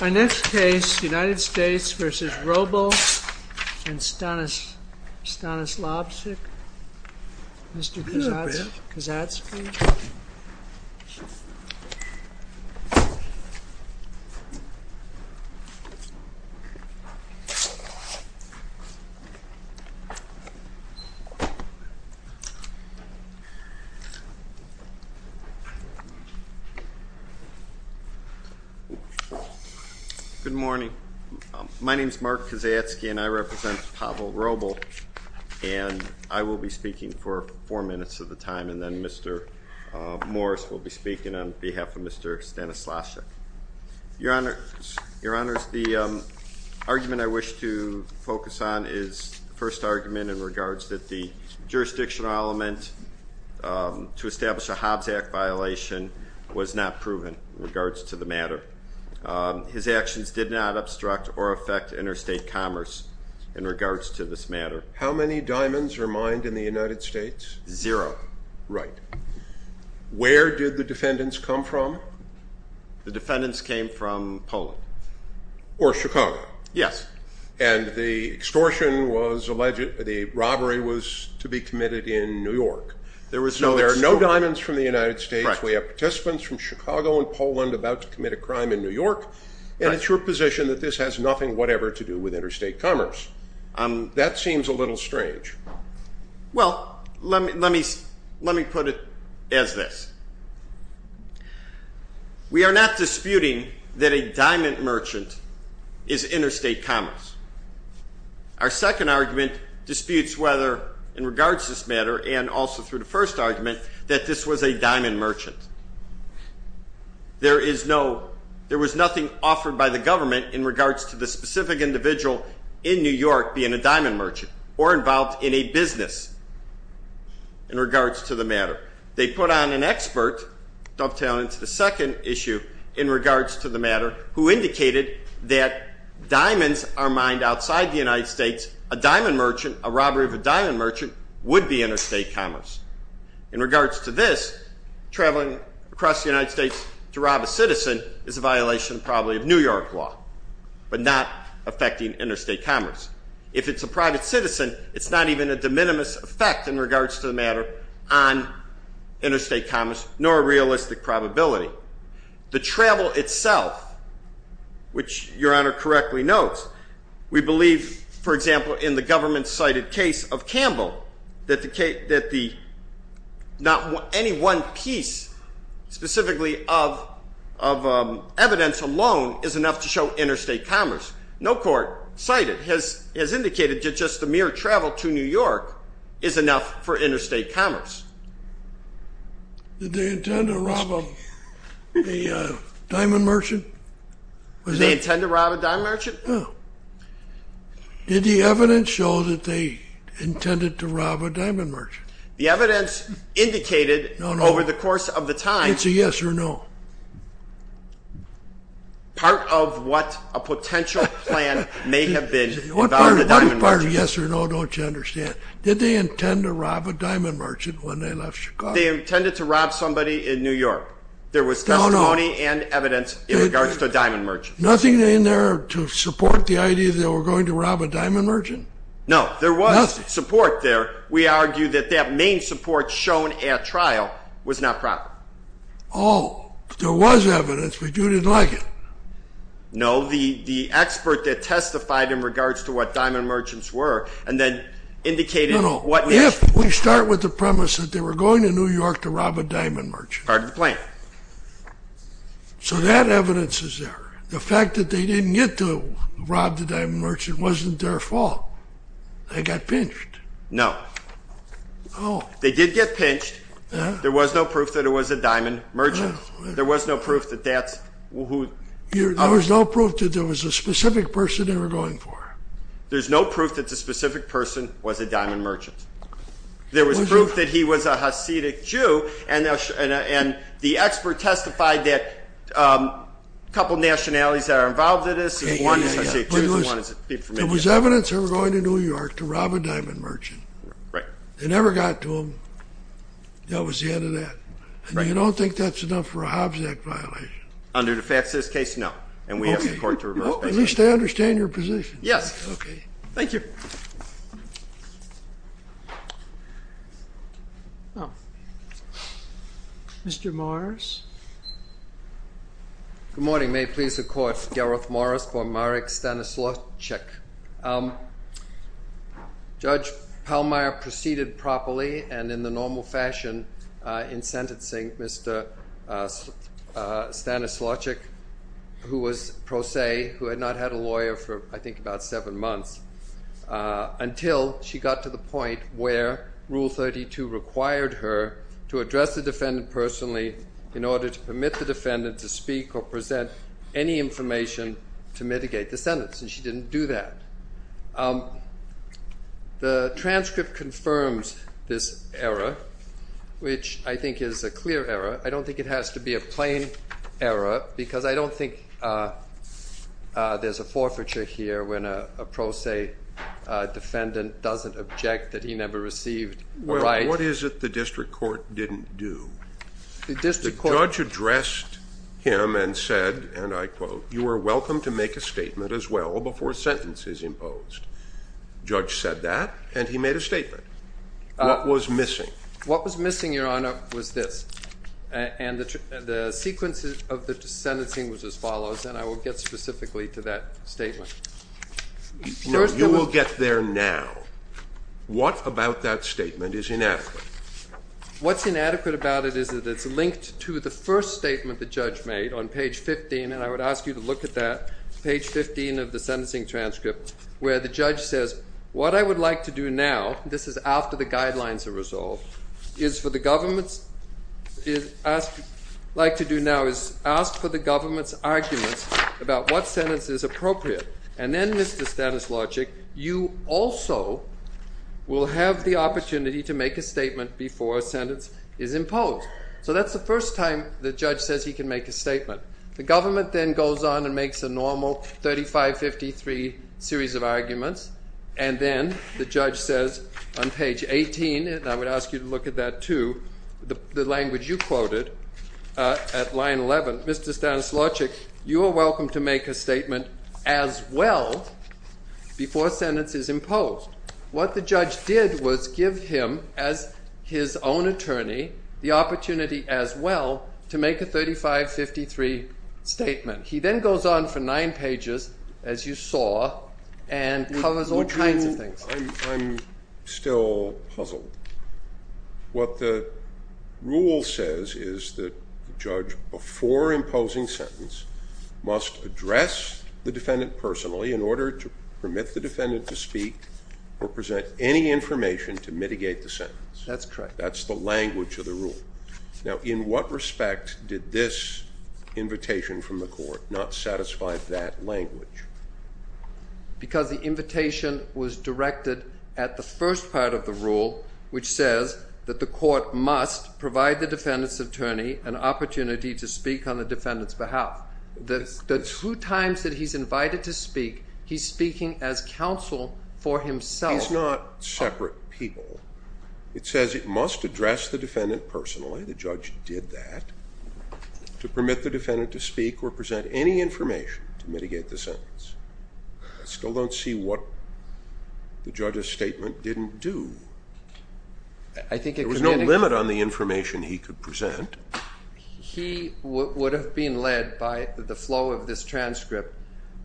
Our next case, United States v. Wrobel and Stanislavczyk, Mr. Kazatsky. Good morning. My name is Mark Kazatsky and I represent Pawel Wrobel and I will be speaking for four minutes of the time and then Mr. Morris will be speaking on behalf of Mr. Stanislavczyk. Your Honor, the argument I wish to focus on is the first argument in regards to the jurisdictional element to establish a Hobbs Act violation was not proven in regards to the matter. His actions did not obstruct or affect interstate commerce in regards to this matter. How many diamonds were mined in the United States? Zero. Right. Where did the defendants come from? The defendants came from Poland. Or Chicago. Yes. And the extortion was alleged, the robbery was to be committed in New York. There was no extortion. So there are no diamonds from the United States, we have participants from Chicago and Poland about to commit a crime in New York and it's your position that this has nothing whatever to do with interstate commerce. That seems a little strange. Well, let me put it as this. We are not disputing that a diamond merchant is interstate commerce. Our second argument disputes whether in regards to this matter and also through the first argument that this was a diamond merchant. There was nothing offered by the government in regards to the specific individual in New York being a diamond merchant or involved in a business in regards to the matter. They put on an expert, dovetailing to the second issue, in regards to the matter who indicated that diamonds are mined outside the United States. A diamond merchant, a robbery of a diamond merchant would be interstate commerce. In regards to this, traveling across the United States to rob a citizen is a violation probably of New York law but not affecting interstate commerce. If it's a private citizen, it's not even a de minimis effect in regards to the matter on interstate commerce nor a realistic probability. The travel itself, which your Honor correctly notes, we believe, for example, in the government-cited case of Campbell, that any one piece specifically of evidence alone is enough to show interstate commerce. No court cited has indicated that just the mere travel to New York is enough for interstate commerce. Did they intend to rob a diamond merchant? Did they intend to rob a diamond merchant? No. Did the evidence show that they intended to rob a diamond merchant? The evidence indicated over the course of the time. It's a yes or no. Yes or no, don't you understand? Did they intend to rob a diamond merchant when they left Chicago? They intended to rob somebody in New York. There was testimony and evidence in regards to a diamond merchant. Nothing in there to support the idea that they were going to rob a diamond merchant? No. There was support there. We argue that that main support shown at trial was not proper. Oh, there was evidence but you didn't like it. No. The expert that testified in regards to what diamond merchants were and then indicated what is. No, no. If we start with the premise that they were going to New York to rob a diamond merchant. Part of the plan. So that evidence is there. The fact that they didn't get to rob the diamond merchant wasn't their fault. They got pinched. No. Oh. They did get pinched. There was no proof that it was a diamond merchant. There was no proof that that's who. There was no proof that there was a specific person they were going for. There's no proof that the specific person was a diamond merchant. There was proof that he was a Hasidic Jew and the expert testified that a couple nationalities that are involved in this. There was evidence they were going to New York to rob a diamond merchant. They never got to him. That was the end of that. And you don't think that's enough for a Hobbs Act violation? Under the facts of this case, no. At least I understand your position. Yes. Okay. Thank you. Mr. Morris. Good morning. May it please the Court. Gareth Morris for Marek Stanislawczyk. Judge Pallmeyer proceeded properly and in the normal fashion in sentencing Mr. Stanislawczyk, who was pro se, who had not had a lawyer for, I think, about seven months, until she got to the point where Rule 32 required her to address the defendant personally in order to permit the defendant to speak or present any information to mitigate the sentence. And she didn't do that. The transcript confirms this error, which I think is a clear error. I don't think it has to be a plain error because I don't think there's a forfeiture here when a pro se defendant doesn't object that he never received a right. What is it the district court didn't do? The judge addressed him and said, and I quote, you are welcome to make a statement as well before a sentence is imposed. The judge said that and he made a statement. What was missing? What was missing, Your Honor, was this. And the sequence of the sentencing was as follows, and I will get specifically to that statement. No, you will get there now. What about that statement is inadequate? What's inadequate about it is that it's linked to the first statement the judge made on page 15. And I would ask you to look at that, page 15 of the sentencing transcript, where the judge says, what I would like to do now, this is after the guidelines are resolved, is for the government's, like to do now is ask for the government's arguments about what sentence is appropriate. And then, Mr. Stanislavich, you also will have the opportunity to make a statement before a sentence is imposed. So that's the first time the judge says he can make a statement. The government then goes on and makes a normal 3553 series of arguments. And then the judge says on page 18, and I would ask you to look at that too, the language you quoted at line 11, Mr. Stanislavich, you are welcome to make a statement as well before a sentence is imposed. What the judge did was give him, as his own attorney, the opportunity as well to make a 3553 statement. He then goes on for nine pages, as you saw, and covers all kinds of things. I'm still puzzled. What the rule says is that the judge, before imposing sentence, must address the defendant personally in order to permit the defendant to speak or present any information to mitigate the sentence. That's correct. That's the language of the rule. Now, in what respect did this invitation from the court not satisfy that language? Because the invitation was directed at the first part of the rule, which says that the court must provide the defendant's attorney an opportunity to speak on the defendant's behalf. The two times that he's invited to speak, he's speaking as counsel for himself. He's not separate people. It says it must address the defendant personally, the judge did that, to permit the defendant to speak or present any information to mitigate the sentence. I still don't see what the judge's statement didn't do. I think it could be anything. There was no limit on the information he could present. He would have been led by the flow of this transcript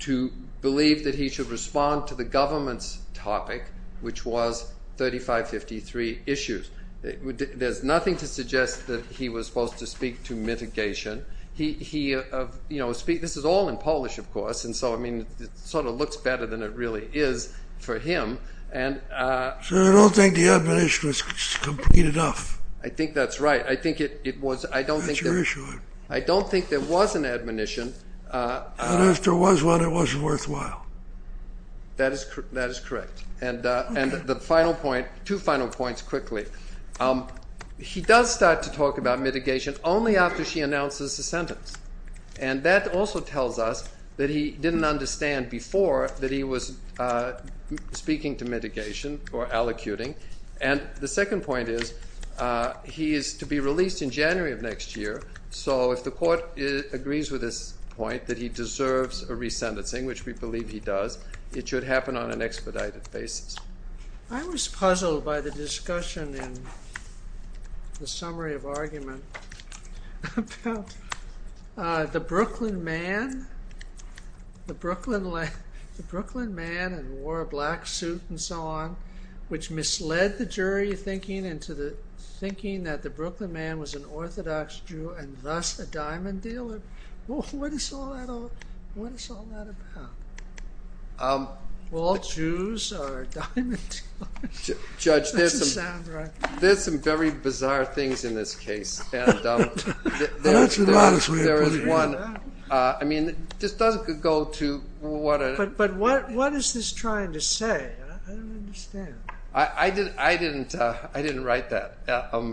to believe that he should respond to the government's topic, which was 3553 issues. There's nothing to suggest that he was supposed to speak to mitigation. This is all in Polish, of course, and so it sort of looks better than it really is for him. I don't think the admonition was complete enough. I think that's right. That's your issue. I don't think there was an admonition. And if there was one, it wasn't worthwhile. That is correct. And the final point, two final points quickly. He does start to talk about mitigation only after she announces the sentence. And that also tells us that he didn't understand before that he was speaking to mitigation or allocuting. And the second point is he is to be released in January of next year. So if the court agrees with this point that he deserves a resentencing, which we believe he does, it should happen on an expedited basis. I was puzzled by the discussion in the summary of argument about the Brooklyn man and wore a black suit and so on, which misled the jury thinking that the Brooklyn man was an Orthodox Jew and thus a diamond dealer. What is all that about? Well, all Jews are diamond dealers. Judge, there's some very bizarre things in this case. That's a lot of swear words. I mean, this doesn't go to what... But what is this trying to say? I don't understand. I didn't write that. But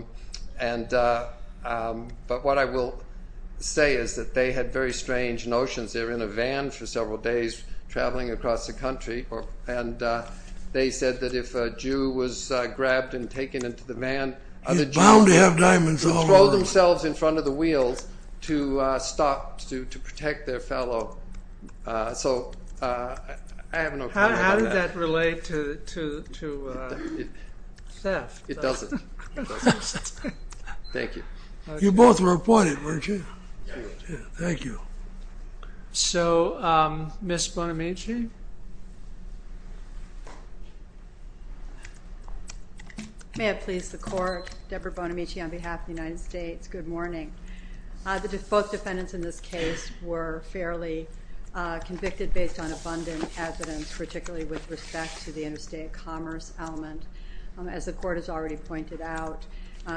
what I will say is that they had very strange notions. They were in a van for several days traveling across the country. And they said that if a Jew was grabbed and taken into the van, the Jews would throw themselves in front of the wheels to stop, to protect their fellow. So I have no comment on that. How does that relate to theft? It doesn't. Thank you. You both were appointed, weren't you? Yes. Thank you. So, Ms. Bonamici? May it please the court. Deborah Bonamici on behalf of the United States. Good morning. Both defendants in this case were fairly convicted based on abundant evidence, particularly with respect to the interstate commerce element. As the court has already pointed out,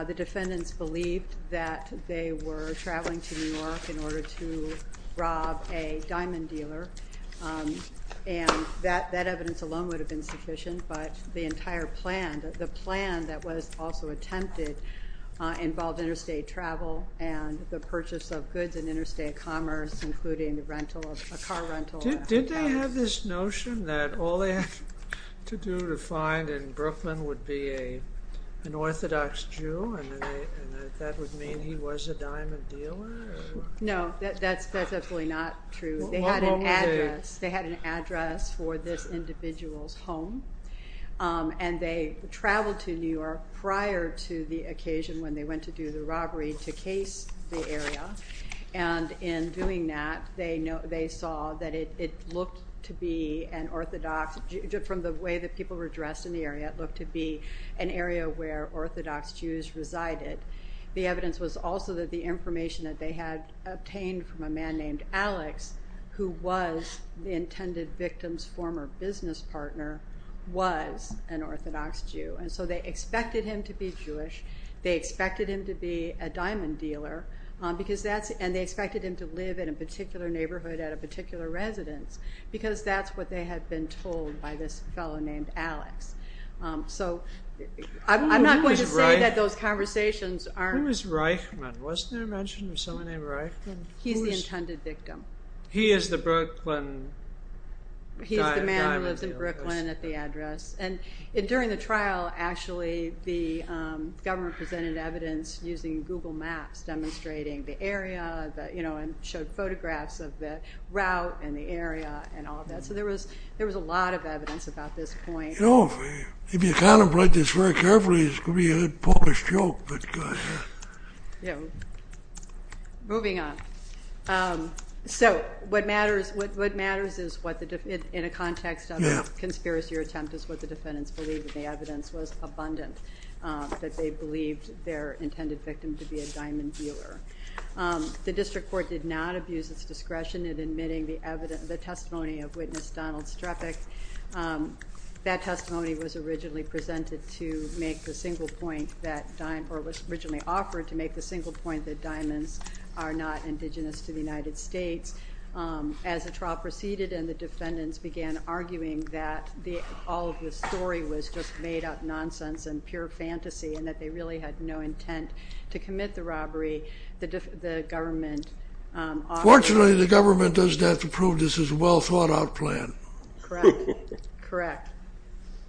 the defendants believed that they were traveling to New York in order to rob a diamond dealer. And that evidence alone would have been sufficient. But the entire plan, the plan that was also attempted, involved interstate travel and the purchase of goods in interstate commerce, including a car rental. Did they have this notion that all they had to do to find in Brooklyn would be an Orthodox Jew? And that would mean he was a diamond dealer? No, that's absolutely not true. They had an address. They had an address for this individual's home. And they traveled to New York prior to the occasion when they went to do the robbery to case the area. And in doing that, they saw that it looked to be an Orthodox, from the way that people were dressed in the area, it looked to be an area where Orthodox Jews resided. The evidence was also that the information that they had obtained from a man named Alex, who was the intended victim's former business partner, was an Orthodox Jew. And so they expected him to be Jewish. They expected him to be a diamond dealer. And they expected him to live in a particular neighborhood at a particular residence. Because that's what they had been told by this fellow named Alex. So I'm not going to say that those conversations aren't. Who was Reichman? Wasn't there a mention of someone named Reichman? He's the intended victim. He is the Brooklyn diamond dealer? He's the man who lives in Brooklyn at the address. And during the trial, actually, the government presented evidence using Google Maps, demonstrating the area, you know, and showed photographs of the route and the area and all that. So there was a lot of evidence about this point. You know, if you kind of write this very carefully, it's going to be a Polish joke. Moving on. So what matters is, in a context of a conspiracy or attempt, is what the defendants believe. And the evidence was abundant that they believed their intended victim to be a diamond dealer. The district court did not abuse its discretion in admitting the testimony of Witness Donald Strefik. That testimony was originally presented to make the single point that, or was originally offered to make the single point that diamonds are not indigenous to the United States. As the trial proceeded and the defendants began arguing that all of the story was just made up nonsense and pure fantasy and that they really had no intent to commit the robbery, the government offered. Fortunately, the government doesn't have to prove this is a well-thought-out plan. Correct, correct,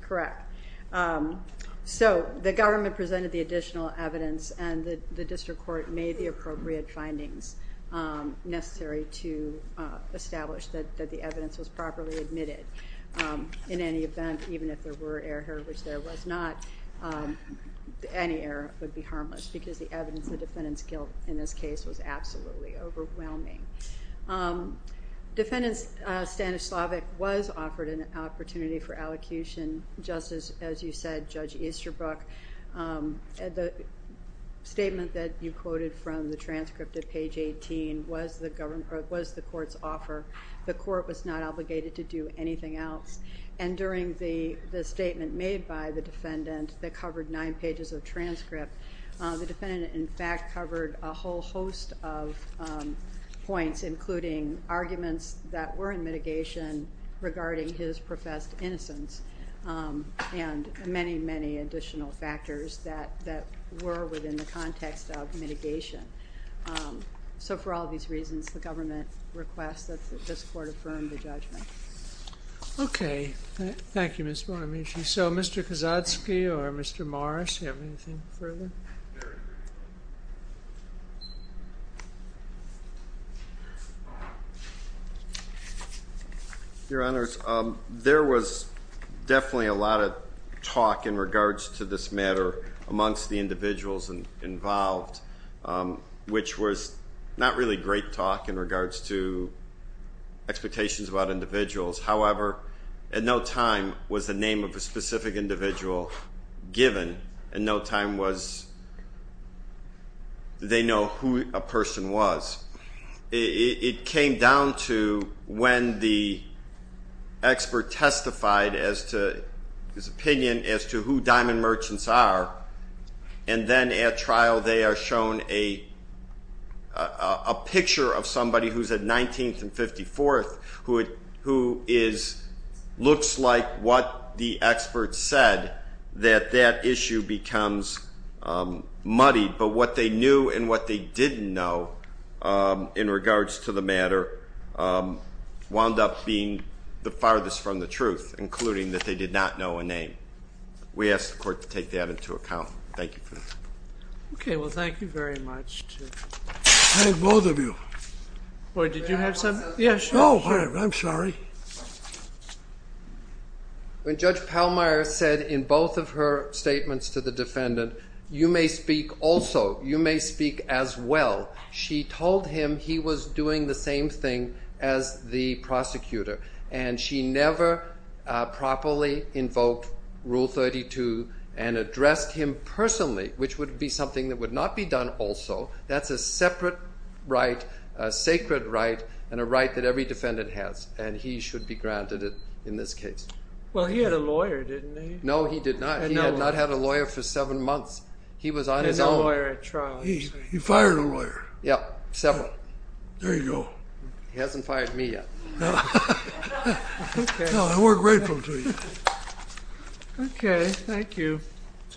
correct. So the government presented the additional evidence and the district court made the appropriate findings necessary to establish that the evidence was properly admitted. In any event, even if there were error, which there was not, any error would be harmless because the evidence the defendants killed in this case was absolutely overwhelming. Defendant Stanislavik was offered an opportunity for allocution just as you said, Judge Easterbrook. The statement that you quoted from the transcript at page 18 was the court's offer. The court was not obligated to do anything else. And during the statement made by the defendant that covered nine pages of transcript, the defendant in fact covered a whole host of points including arguments that were in mitigation regarding his professed innocence and many, many additional factors that were within the context of mitigation. So for all these reasons, the government requests that this court affirm the judgment. Okay. Thank you, Ms. Bonamici. So Mr. Kozadzki or Mr. Morris, do you have anything further? Your Honor, there was definitely a lot of talk in regards to this matter amongst the individuals involved, which was not really great talk in regards to expectations about individuals. However, at no time was the name of a specific individual given and no time was they know who a person was. It came down to when the expert testified as to his opinion as to who diamond merchants are and then at trial they are shown a picture of somebody who's at 19th and 54th who looks like what the expert said that that issue becomes muddied. But what they knew and what they didn't know in regards to the matter wound up being the farthest from the truth, including that they did not know a name. We ask the court to take that into account. Thank you for that. Okay. Well, thank you very much. Thank both of you. Wait, did you have something? Yeah, sure. No, I'm sorry. When Judge Pallmeyer said in both of her statements to the defendant, you may speak also, you may speak as well. She told him he was doing the same thing as the prosecutor and she never properly invoked Rule 32 and addressed him personally, which would be something that would not be done also. That's a separate right, a sacred right, and a right that every defendant has, and he should be granted it in this case. Well, he had a lawyer, didn't he? No, he did not. He had not had a lawyer for seven months. He was on his own. He had no lawyer at trial. He fired a lawyer. Yeah, several. There you go. He hasn't fired me yet. No, I work grateful to you. Okay, thank you.